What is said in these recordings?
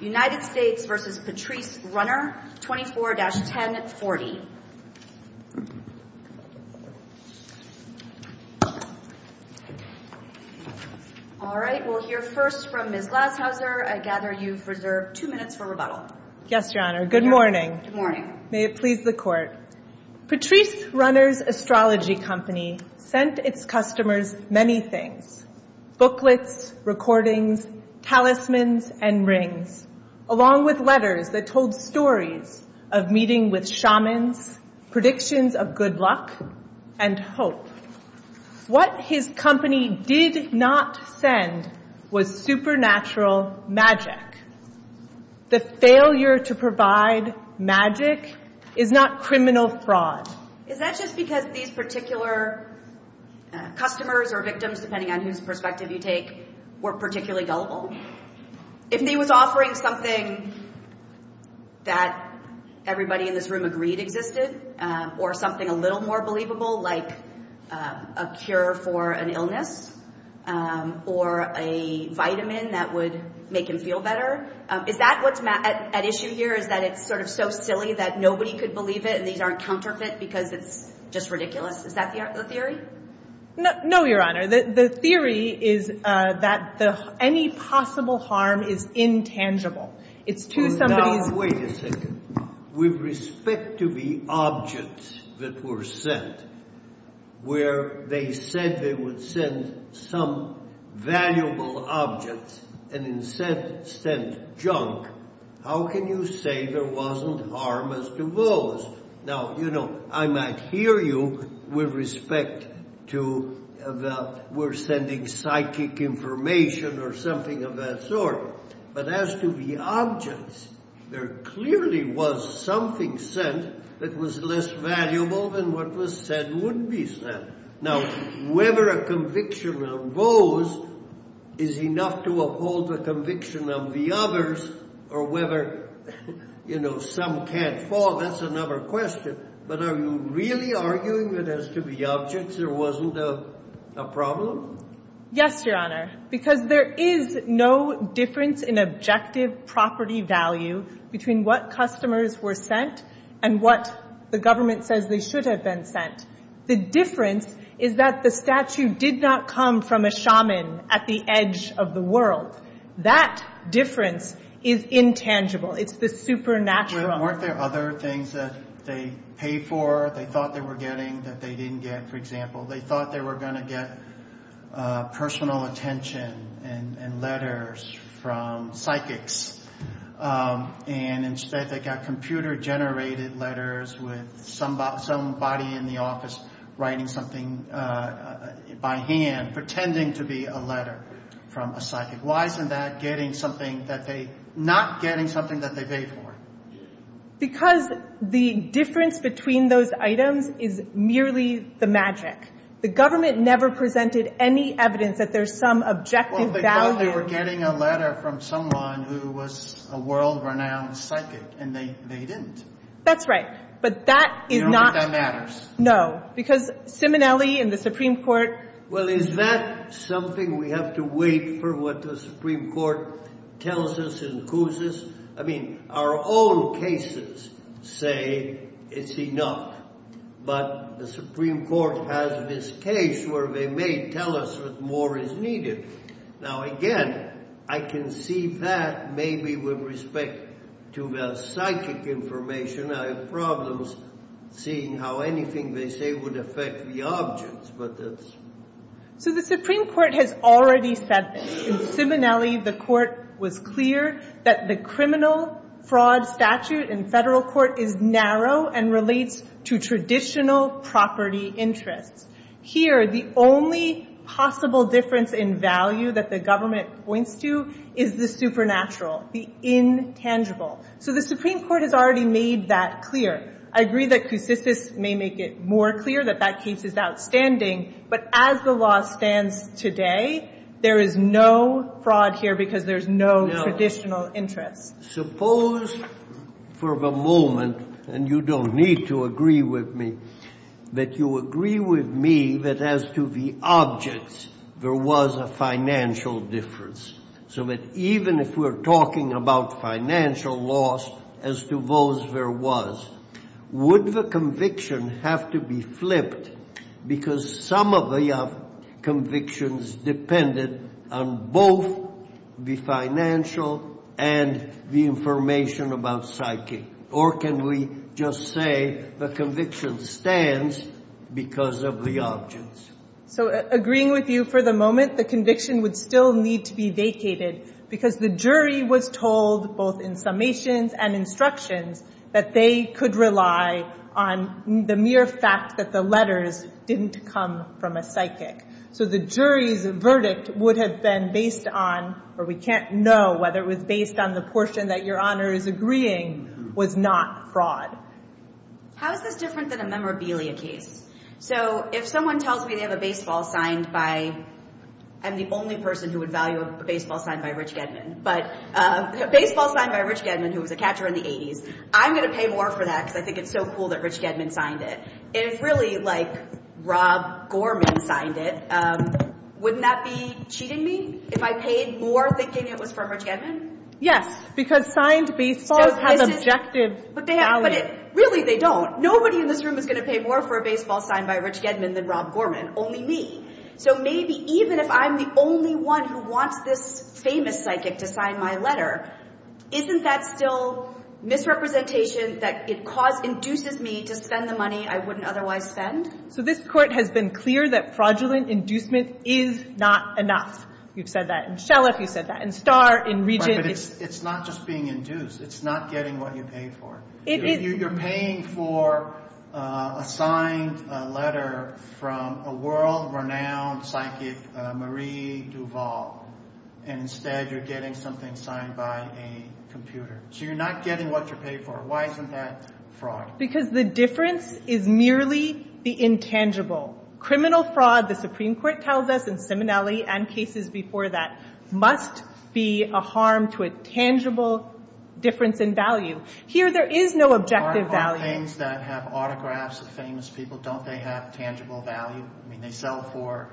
24-1040. Alright, we'll hear first from Ms. Glashauser. I gather you've reserved two minutes for rebuttal. Yes, Your Honor. Good morning. Good morning. May it please the Court. Patrice Runner's astrology company sent its customers many things. Booklets, recordings, talismans, and rings, along with letters that told stories of meeting with shamans, predictions of good luck, and hope. What his company did not send was supernatural magic. The failure to provide magic is not criminal fraud. Is that just because these particular customers or victims, depending on whose perspective you take, were particularly gullible? If he was offering something that everybody in this room agreed existed, or something a little more believable, like a cure for an illness, or a vitamin that would make him feel better, is that what's at issue here? Is that it's sort of so silly that nobody could believe it and these aren't counterfeit because it's just ridiculous? Is that the theory? No, Your Honor. The theory is that any possible harm is intangible. It's to somebody's… where they said they would send some valuable objects and instead sent junk, how can you say there wasn't harm as to those? Now, you know, I might hear you with respect to that we're sending psychic information or something of that sort, but as to the objects, there clearly was something sent that was less valuable than what was said would be sent. Now, whether a conviction arose is enough to uphold the conviction of the others, or whether, you know, some can't fall, that's another question. But are you really arguing that as to the objects there wasn't a problem? Yes, Your Honor, because there is no difference in objective property value between what customers were sent and what the government says they should have been sent. The difference is that the statue did not come from a shaman at the edge of the world. That difference is intangible. It's the supernatural. Weren't there other things that they paid for, they thought they were getting, that they didn't get? For example, they thought they were going to get personal attention and letters from psychics, and instead they got computer-generated letters with somebody in the office writing something by hand, pretending to be a letter from a psychic. Why isn't that getting something that they — not getting something that they paid for? Because the difference between those items is merely the magic. The government never presented any evidence that there's some objective value. Well, they thought they were getting a letter from someone who was a world-renowned psychic, and they didn't. That's right, but that is not — You don't think that matters? No, because Simonelli and the Supreme Court — Well, is that something we have to wait for what the Supreme Court tells us and accuses? I mean, our own cases say it's enough, but the Supreme Court has this case where they may tell us that more is needed. Now, again, I can see that maybe with respect to the psychic information. I have problems seeing how anything they say would affect the objects, but that's — So the Supreme Court has already said this. In Simonelli, the court was clear that the criminal fraud statute in federal court is narrow and relates to traditional property interests. Here, the only possible difference in value that the government points to is the supernatural, the intangible. So the Supreme Court has already made that clear. I agree that Cusicus may make it more clear that that case is outstanding, but as the law stands today, there is no fraud here because there's no traditional interests. Suppose for the moment, and you don't need to agree with me, that you agree with me that as to the objects, there was a financial difference, so that even if we're talking about financial loss as to those there was, would the conviction have to be flipped because some of the convictions depended on both the financial and the information about psychic? Or can we just say the conviction stands because of the objects? So agreeing with you for the moment, the conviction would still need to be vacated because the jury was told both in summations and instructions that they could rely on the mere fact that the letters didn't come from a psychic. So the jury's verdict would have been based on — or we can't know whether it was based on the portion that Your Honor is agreeing was not fraud. How is this different than a memorabilia case? So if someone tells me they have a baseball signed by — I'm the only person who would value a baseball signed by Rich Gedman, but a baseball signed by Rich Gedman who was a catcher in the 80s, I'm going to pay more for that because I think it's so cool that Rich Gedman signed it. If really like Rob Gorman signed it, wouldn't that be cheating me if I paid more thinking it was from Rich Gedman? Yes, because signed baseballs have objective value. But really they don't. Nobody in this room is going to pay more for a baseball signed by Rich Gedman than Rob Gorman, only me. So maybe even if I'm the only one who wants this famous psychic to sign my letter, isn't that still misrepresentation that it induces me to spend the money I wouldn't otherwise spend? So this Court has been clear that fraudulent inducement is not enough. You've said that in Shellef, you've said that in Starr, in Regent. But it's not just being induced. It's not getting what you paid for. You're paying for a signed letter from a world-renowned psychic, Marie Duvall, and instead you're getting something signed by a computer. So you're not getting what you're paid for. Why isn't that fraud? Because the difference is merely the intangible. Criminal fraud, the Supreme Court tells us in similarity and cases before that, must be a harm to a tangible difference in value. Here there is no objective value. Aren't all things that have autographs of famous people, don't they have tangible value? I mean, they sell for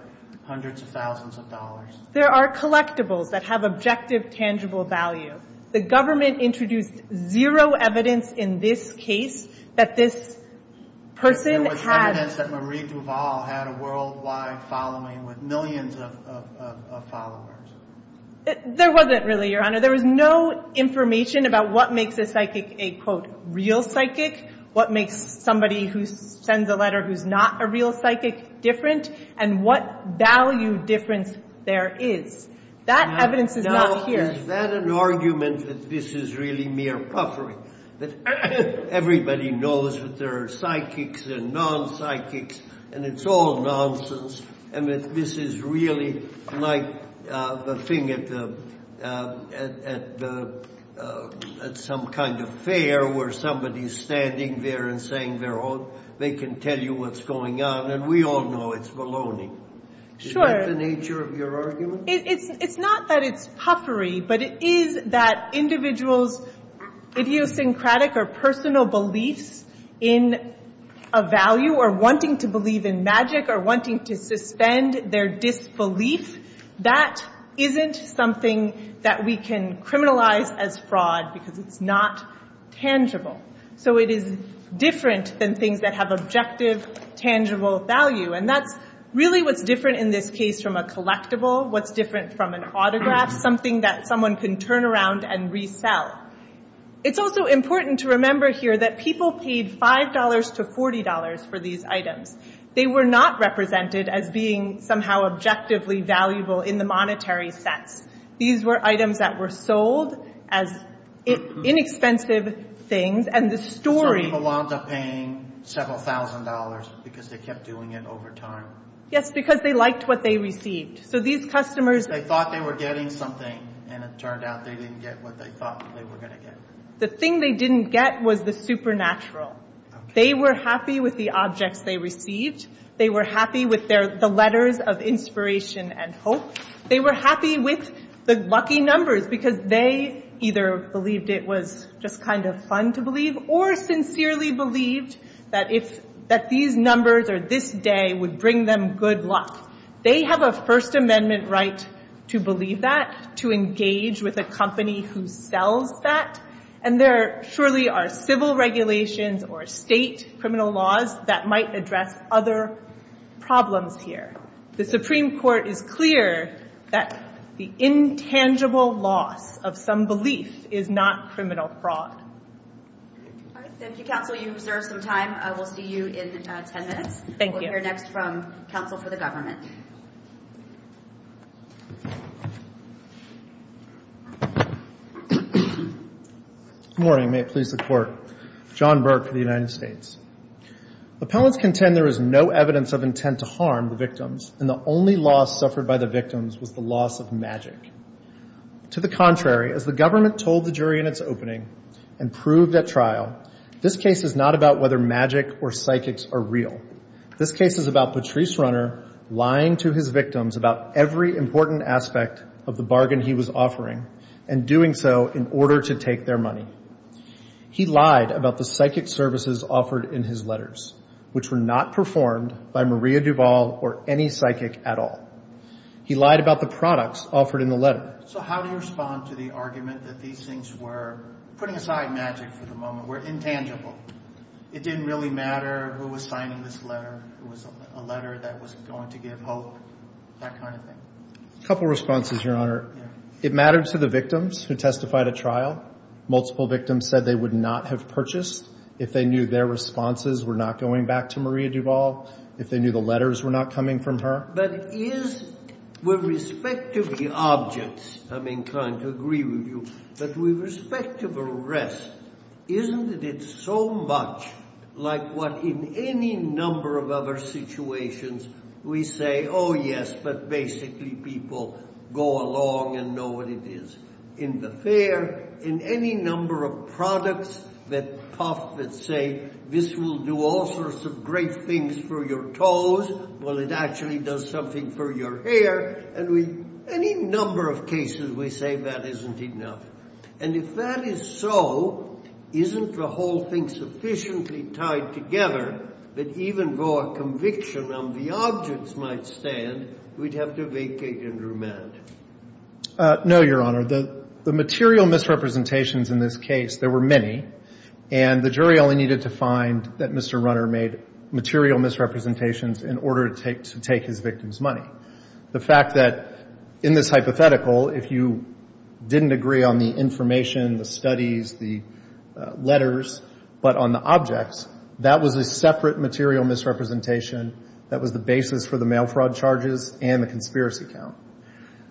hundreds of thousands of dollars. There are collectibles that have objective, tangible value. The government introduced zero evidence in this case that this person had... There was evidence that Marie Duvall had a worldwide following with millions of followers. There wasn't really, Your Honor. There was no information about what makes a psychic a, quote, real psychic, what makes somebody who sends a letter who's not a real psychic different, and what value difference there is. That evidence is not here. Now, is that an argument that this is really mere puffery, that everybody knows that there are psychics and non-psychics, and it's all nonsense, and that this is really like the thing at some kind of fair where somebody's standing there and saying they can tell you what's going on, and we all know it's baloney. Sure. Isn't that the nature of your argument? It's not that it's puffery, but it is that individuals' idiosyncratic or personal beliefs in a value or wanting to believe in magic or wanting to suspend their disbelief, that isn't something that we can criminalize as fraud because it's not tangible. So it is different than things that have objective, tangible value, and that's really what's different in this case from a collectible, what's different from an autograph, something that someone can turn around and resell. It's also important to remember here that people paid $5 to $40 for these items. They were not represented as being somehow objectively valuable in the monetary sense. These were items that were sold as inexpensive things, and the story— So people wound up paying several thousand dollars because they kept doing it over time. Yes, because they liked what they received. So these customers— They thought they were getting something, and it turned out they didn't get what they thought they were going to get. The thing they didn't get was the supernatural. They were happy with the objects they received. They were happy with the letters of inspiration and hope. They were happy with the lucky numbers because they either believed it was just kind of fun to believe or sincerely believed that these numbers or this day would bring them good luck. They have a First Amendment right to believe that, to engage with a company who sells that, and there surely are civil regulations or state criminal laws that might address other problems here. The Supreme Court is clear that the intangible loss of some belief is not criminal fraud. All right, thank you, Counsel. You've reserved some time. We'll see you in 10 minutes. Thank you. We'll hear next from Counsel for the Government. Good morning. May it please the Court. John Burke for the United States. Appellants contend there is no evidence of intent to harm the victims, and the only loss suffered by the victims was the loss of magic. To the contrary, as the government told the jury in its opening and proved at trial, this case is not about whether magic or psychics are real. This case is about Patrice Runner lying to his victims about every important aspect of the bargain he was offering and doing so in order to take their money. He lied about the psychic services offered in his letters, which were not performed by Maria Duvall or any psychic at all. He lied about the products offered in the letter. So how do you respond to the argument that these things were, putting aside magic for the moment, were intangible? It didn't really matter who was signing this letter. It was a letter that was going to give hope, that kind of thing. A couple of responses, Your Honor. It mattered to the victims who testified at trial. Multiple victims said they would not have purchased if they knew their responses were not going back to Maria Duvall, if they knew the letters were not coming from her. But is, with respect to the objects, I'm inclined to agree with you, but with respect to the rest, isn't it so much like what in any number of other situations we say, oh yes, but basically people go along and know what it is. In the fair, in any number of products that say this will do all sorts of great things for your toes, well, it actually does something for your hair. And with any number of cases we say that isn't enough. And if that is so, isn't the whole thing sufficiently tied together that even though a conviction on the objects might stand, we'd have to vacate and remand? No, Your Honor. The material misrepresentations in this case, there were many, and the jury only needed to find that Mr. Runner made material misrepresentations in order to take his victim's money. The fact that in this hypothetical, if you didn't agree on the information, the studies, the letters, but on the objects, that was a separate material misrepresentation that was the basis for the mail fraud charges and the conspiracy count.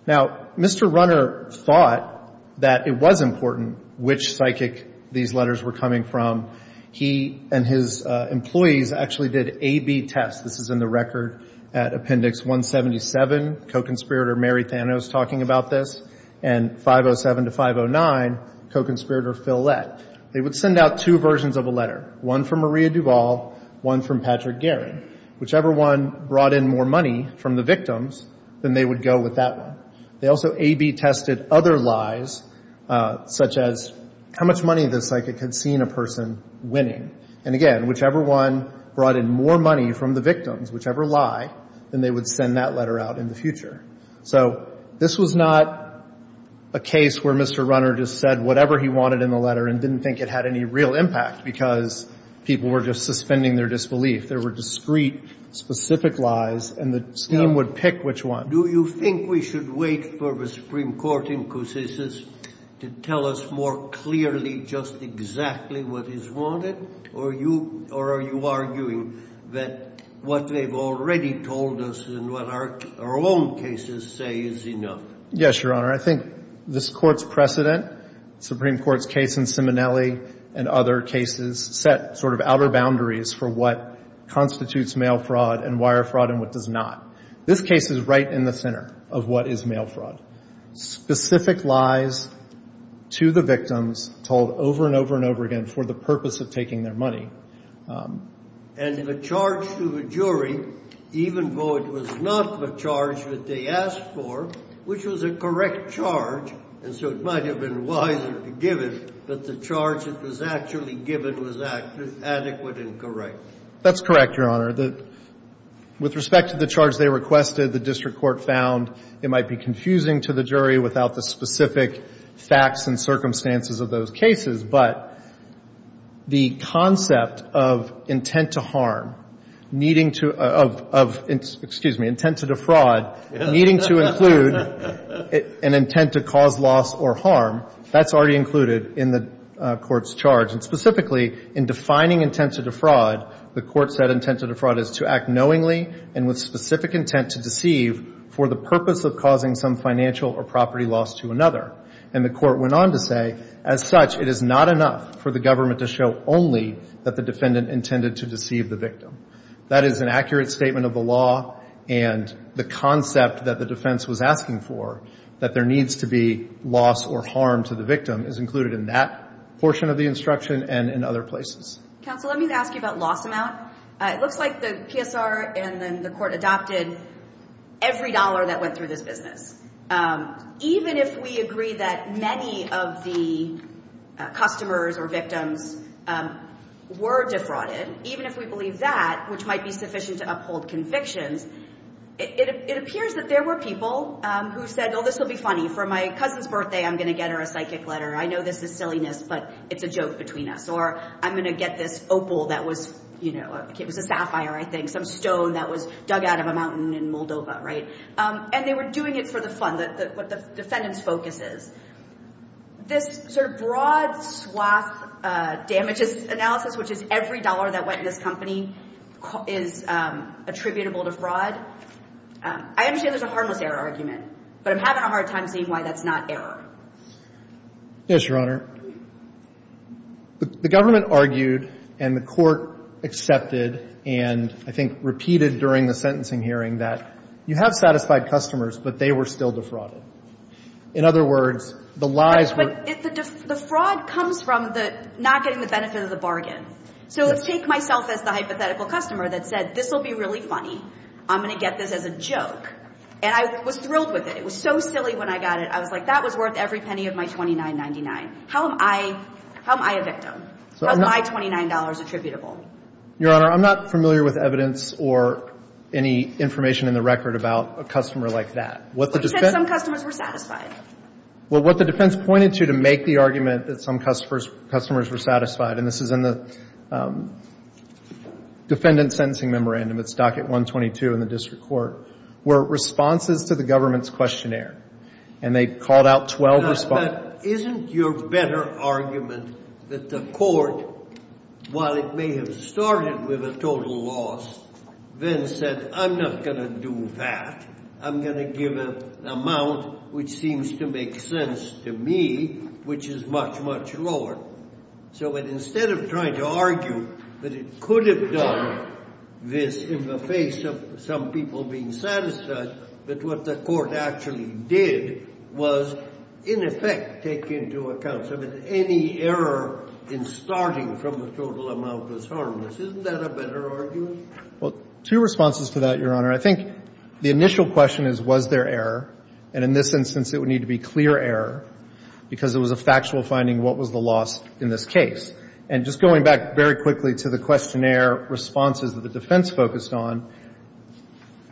Now, Mr. Runner thought that it was important which psychic these letters were coming from. He and his employees actually did A-B tests. This is in the record at Appendix 177, co-conspirator Mary Thanos talking about this, and 507 to 509, co-conspirator Phil Lett. They would send out two versions of a letter, one from Maria Duvall, one from Patrick Guerin. Whichever one brought in more money from the victims, then they would go with that one. They also A-B tested other lies, such as how much money the psychic had seen a person winning. And again, whichever one brought in more money from the victims, whichever lie, then they would send that letter out in the future. So this was not a case where Mr. Runner just said whatever he wanted in the letter and didn't think it had any real impact because people were just suspending their disbelief. There were discrete, specific lies, and the scheme would pick which one. Do you think we should wait for the Supreme Court inquisition to tell us more clearly just exactly what is wanted? Or are you arguing that what they've already told us and what our own cases say is enough? Yes, Your Honor. I think this Court's precedent, Supreme Court's case in Simonelli and other cases, set sort of outer boundaries for what constitutes mail fraud and wire fraud and what does not. This case is right in the center of what is mail fraud. Specific lies to the victims told over and over and over again for the purpose of taking their money. And the charge to the jury, even though it was not the charge that they asked for, which was a correct charge, and so it might have been wiser to give it, but the charge that was actually given was adequate and correct. That's correct, Your Honor. With respect to the charge they requested, the district court found it might be confusing to the jury without the specific facts and circumstances of those cases. But the concept of intent to harm needing to — of, excuse me, intent to defraud needing to include an intent to cause loss or harm, that's already included in the Court's charge. And specifically, in defining intent to defraud, the Court said intent to defraud is to act knowingly and with specific intent to deceive for the purpose of causing some financial or property loss to another. And the Court went on to say, as such, it is not enough for the government to show only that the defendant intended to deceive the victim. That is an accurate statement of the law, and the concept that the defense was asking for, that there needs to be loss or harm to the victim, is included in that portion of the instruction and in other places. Counsel, let me ask you about loss amount. It looks like the PSR and then the Court adopted every dollar that went through this business. Even if we agree that many of the customers or victims were defrauded, even if we believe that, which might be sufficient to uphold convictions, it appears that there were people who said, oh, this will be funny. For my cousin's birthday, I'm going to get her a psychic letter. I know this is silliness, but it's a joke between us. Or I'm going to get this opal that was, you know, it was a sapphire, I think, some stone that was dug out of a mountain in Moldova, right? And they were doing it for the fun, what the defendant's focus is. This sort of broad swath damages analysis, which is every dollar that went in this company, is attributable to fraud. I understand there's a harmless error argument, but I'm having a hard time seeing why that's not error. Yes, Your Honor. The government argued and the Court accepted and I think repeated during the sentencing hearing that you have satisfied customers, but they were still defrauded. In other words, the lies were. But the fraud comes from the not getting the benefit of the bargain. So let's take myself as the hypothetical customer that said, this will be really funny. I'm going to get this as a joke. And I was thrilled with it. It was so silly when I got it. I was like, that was worth every penny of my $29.99. How am I a victim? How is my $29 attributable? Your Honor, I'm not familiar with evidence or any information in the record about a customer like that. But you said some customers were satisfied. Well, what the defense pointed to to make the argument that some customers were satisfied, and this is in the defendant's sentencing memorandum, it's docket 122 in the district court, were responses to the government's questionnaire. And they called out 12 responses. But isn't your better argument that the court, while it may have started with a total loss, then said, I'm not going to do that. I'm going to give an amount which seems to make sense to me, which is much, much lower. So instead of trying to argue that it could have done this in the face of some people being satisfied, that what the court actually did was, in effect, take into account, so that any error in starting from the total amount was harmless. Isn't that a better argument? Well, two responses to that, Your Honor. I think the initial question is, was there error? And in this instance, it would need to be clear error, because it was a factual finding, what was the loss in this case. And just going back very quickly to the questionnaire responses that the defense focused on,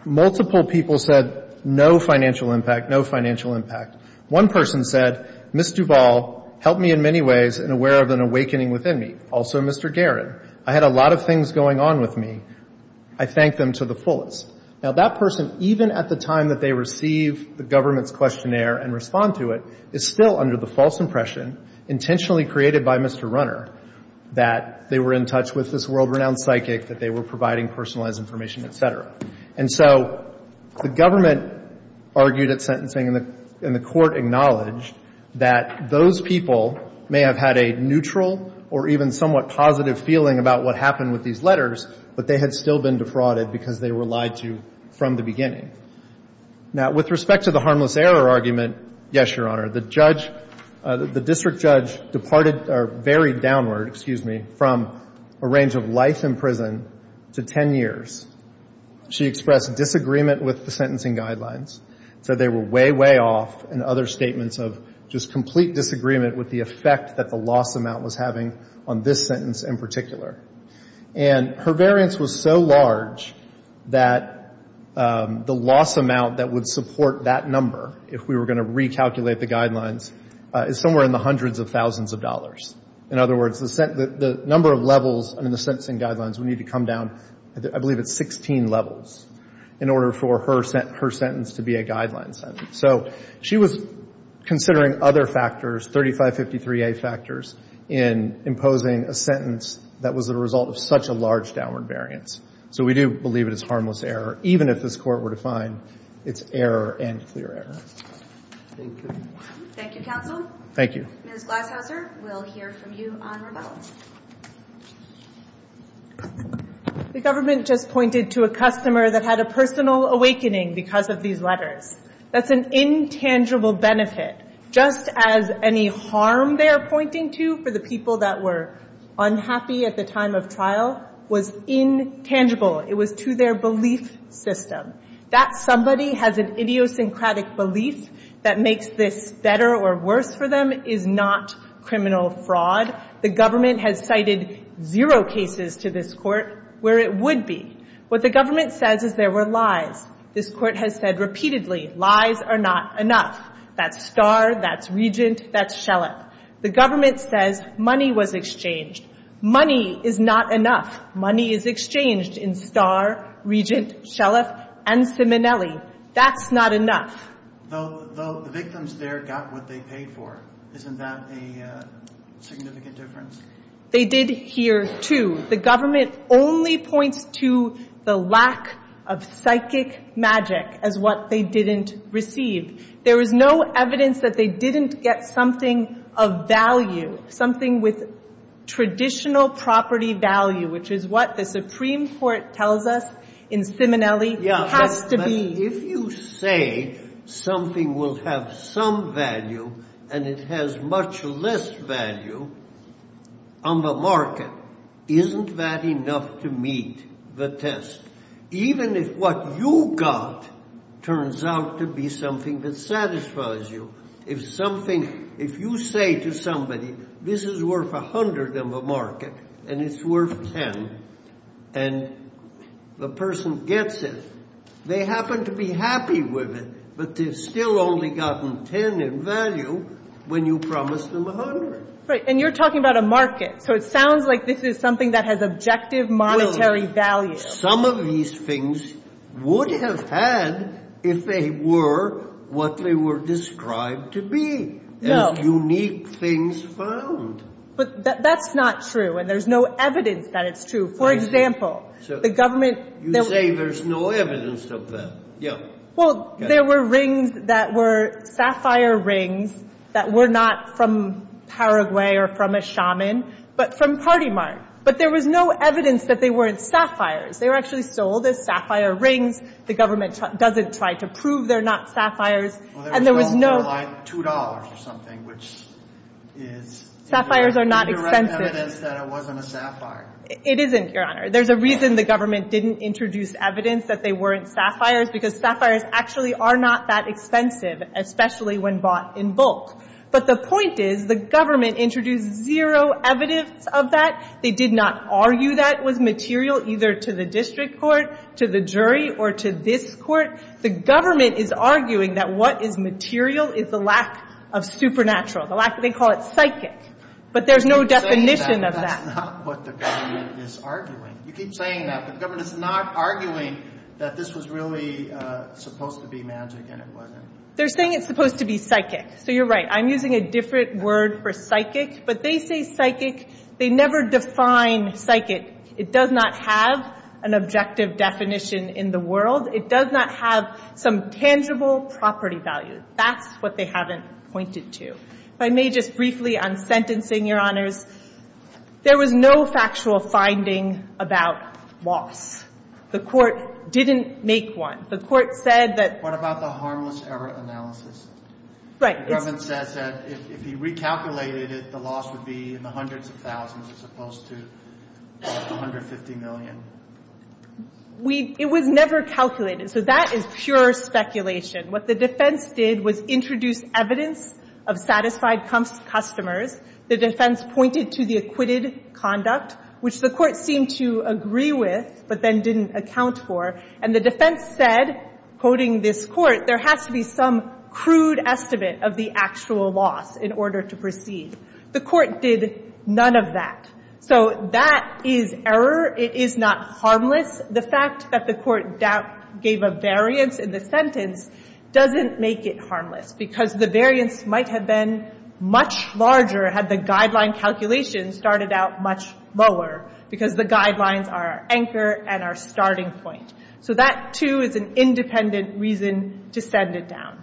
multiple people said no financial impact, no financial impact. One person said, Ms. Duvall helped me in many ways and aware of an awakening within me. Also Mr. Guerin. I had a lot of things going on with me. I thanked them to the fullest. Now, that person, even at the time that they receive the government's questionnaire and respond to it, is still under the false impression, intentionally created by Mr. Runner, that they were in touch with this world-renowned psychic, that they were providing personalized information, et cetera. And so the government argued at sentencing, and the court acknowledged that those people may have had a neutral or even somewhat positive feeling about what happened with these letters, but they had still been defrauded because they were lied to from the beginning. Now, with respect to the harmless error argument, yes, Your Honor. The district judge departed or varied downward, excuse me, from a range of life in prison to ten years. She expressed disagreement with the sentencing guidelines, said they were way, way off, and other statements of just complete disagreement with the effect that the loss amount was having on this sentence in particular. And her variance was so large that the loss amount that would support that number, if we were going to recalculate the guidelines, is somewhere in the hundreds of thousands of dollars. In other words, the number of levels in the sentencing guidelines would need to come down, I believe it's 16 levels, in order for her sentence to be a guideline sentence. So she was considering other factors, 3553A factors, in imposing a sentence that was the result of such a large downward variance. So we do believe it is harmless error, even if this Court were to find it's error and clear error. Thank you. Thank you, counsel. Thank you. Ms. Glashauser, we'll hear from you on rebellion. The government just pointed to a customer that had a personal awakening because of these letters. That's an intangible benefit, just as any harm they are pointing to for the people that were unhappy at the time of trial was intangible. It was to their belief system. That somebody has an idiosyncratic belief that makes this better or worse for them is not criminal fraud. The government has cited zero cases to this Court where it would be. What the government says is there were lies. This Court has said repeatedly, lies are not enough. That's Starr, that's Regent, that's Shellop. The government says money was exchanged. Money is not enough. Money is exchanged in Starr, Regent, Shellop, and Simonelli. That's not enough. The victims there got what they paid for. Isn't that a significant difference? They did here, too. The government only points to the lack of psychic magic as what they didn't receive. There was no evidence that they didn't get something of value, something with traditional property value, which is what the Supreme Court tells us in Simonelli has to be. If you say something will have some value and it has much less value on the market, isn't that enough to meet the test? Even if what you got turns out to be something that satisfies you, if something If you say to somebody this is worth a hundred in the market and it's worth ten and the person gets it, they happen to be happy with it, but they've still only gotten ten in value when you promised them a hundred. Right, and you're talking about a market, so it sounds like this is something that has objective monetary value. But some of these things would have had if they were what they were described to be, as unique things found. But that's not true, and there's no evidence that it's true. For example, the government You say there's no evidence of that. Well, there were rings that were sapphire rings that were not from Paraguay or from a shaman, but from Party Mart. But there was no evidence that they weren't sapphires. They were actually sold as sapphire rings. The government doesn't try to prove they're not sapphires, and there was no Well, they were sold for like $2 or something, which is Sapphires are not expensive. Indirect evidence that it wasn't a sapphire. It isn't, Your Honor. There's a reason the government didn't introduce evidence that they weren't sapphires, because sapphires actually are not that expensive, especially when bought in bulk. But the point is the government introduced zero evidence of that. They did not argue that it was material, either to the district court, to the jury, or to this court. The government is arguing that what is material is the lack of supernatural. They call it psychic. But there's no definition of that. That's not what the government is arguing. You keep saying that, but the government is not arguing that this was really supposed to be magic and it wasn't. They're saying it's supposed to be psychic. So you're right. I'm using a different word for psychic. But they say psychic. They never define psychic. It does not have an objective definition in the world. It does not have some tangible property value. That's what they haven't pointed to. If I may just briefly on sentencing, Your Honors, there was no factual finding about loss. The court didn't make one. The court said that — What about the harmless error analysis? Right. The government says that if you recalculated it, the loss would be in the hundreds of thousands as opposed to $150 million. It was never calculated. So that is pure speculation. What the defense did was introduce evidence of satisfied customers. The defense pointed to the acquitted conduct, which the court seemed to agree with but then didn't account for. And the defense said, quoting this court, there has to be some crude estimate of the actual loss in order to proceed. The court did none of that. So that is error. It is not harmless. The fact that the court gave a variance in the sentence doesn't make it harmless because the variance might have been much larger had the guideline calculations started out much lower because the guidelines are our anchor and our starting point. So that, too, is an independent reason to send it down.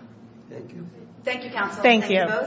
Thank you. Thank you, counsel. Thank you. Thank you both.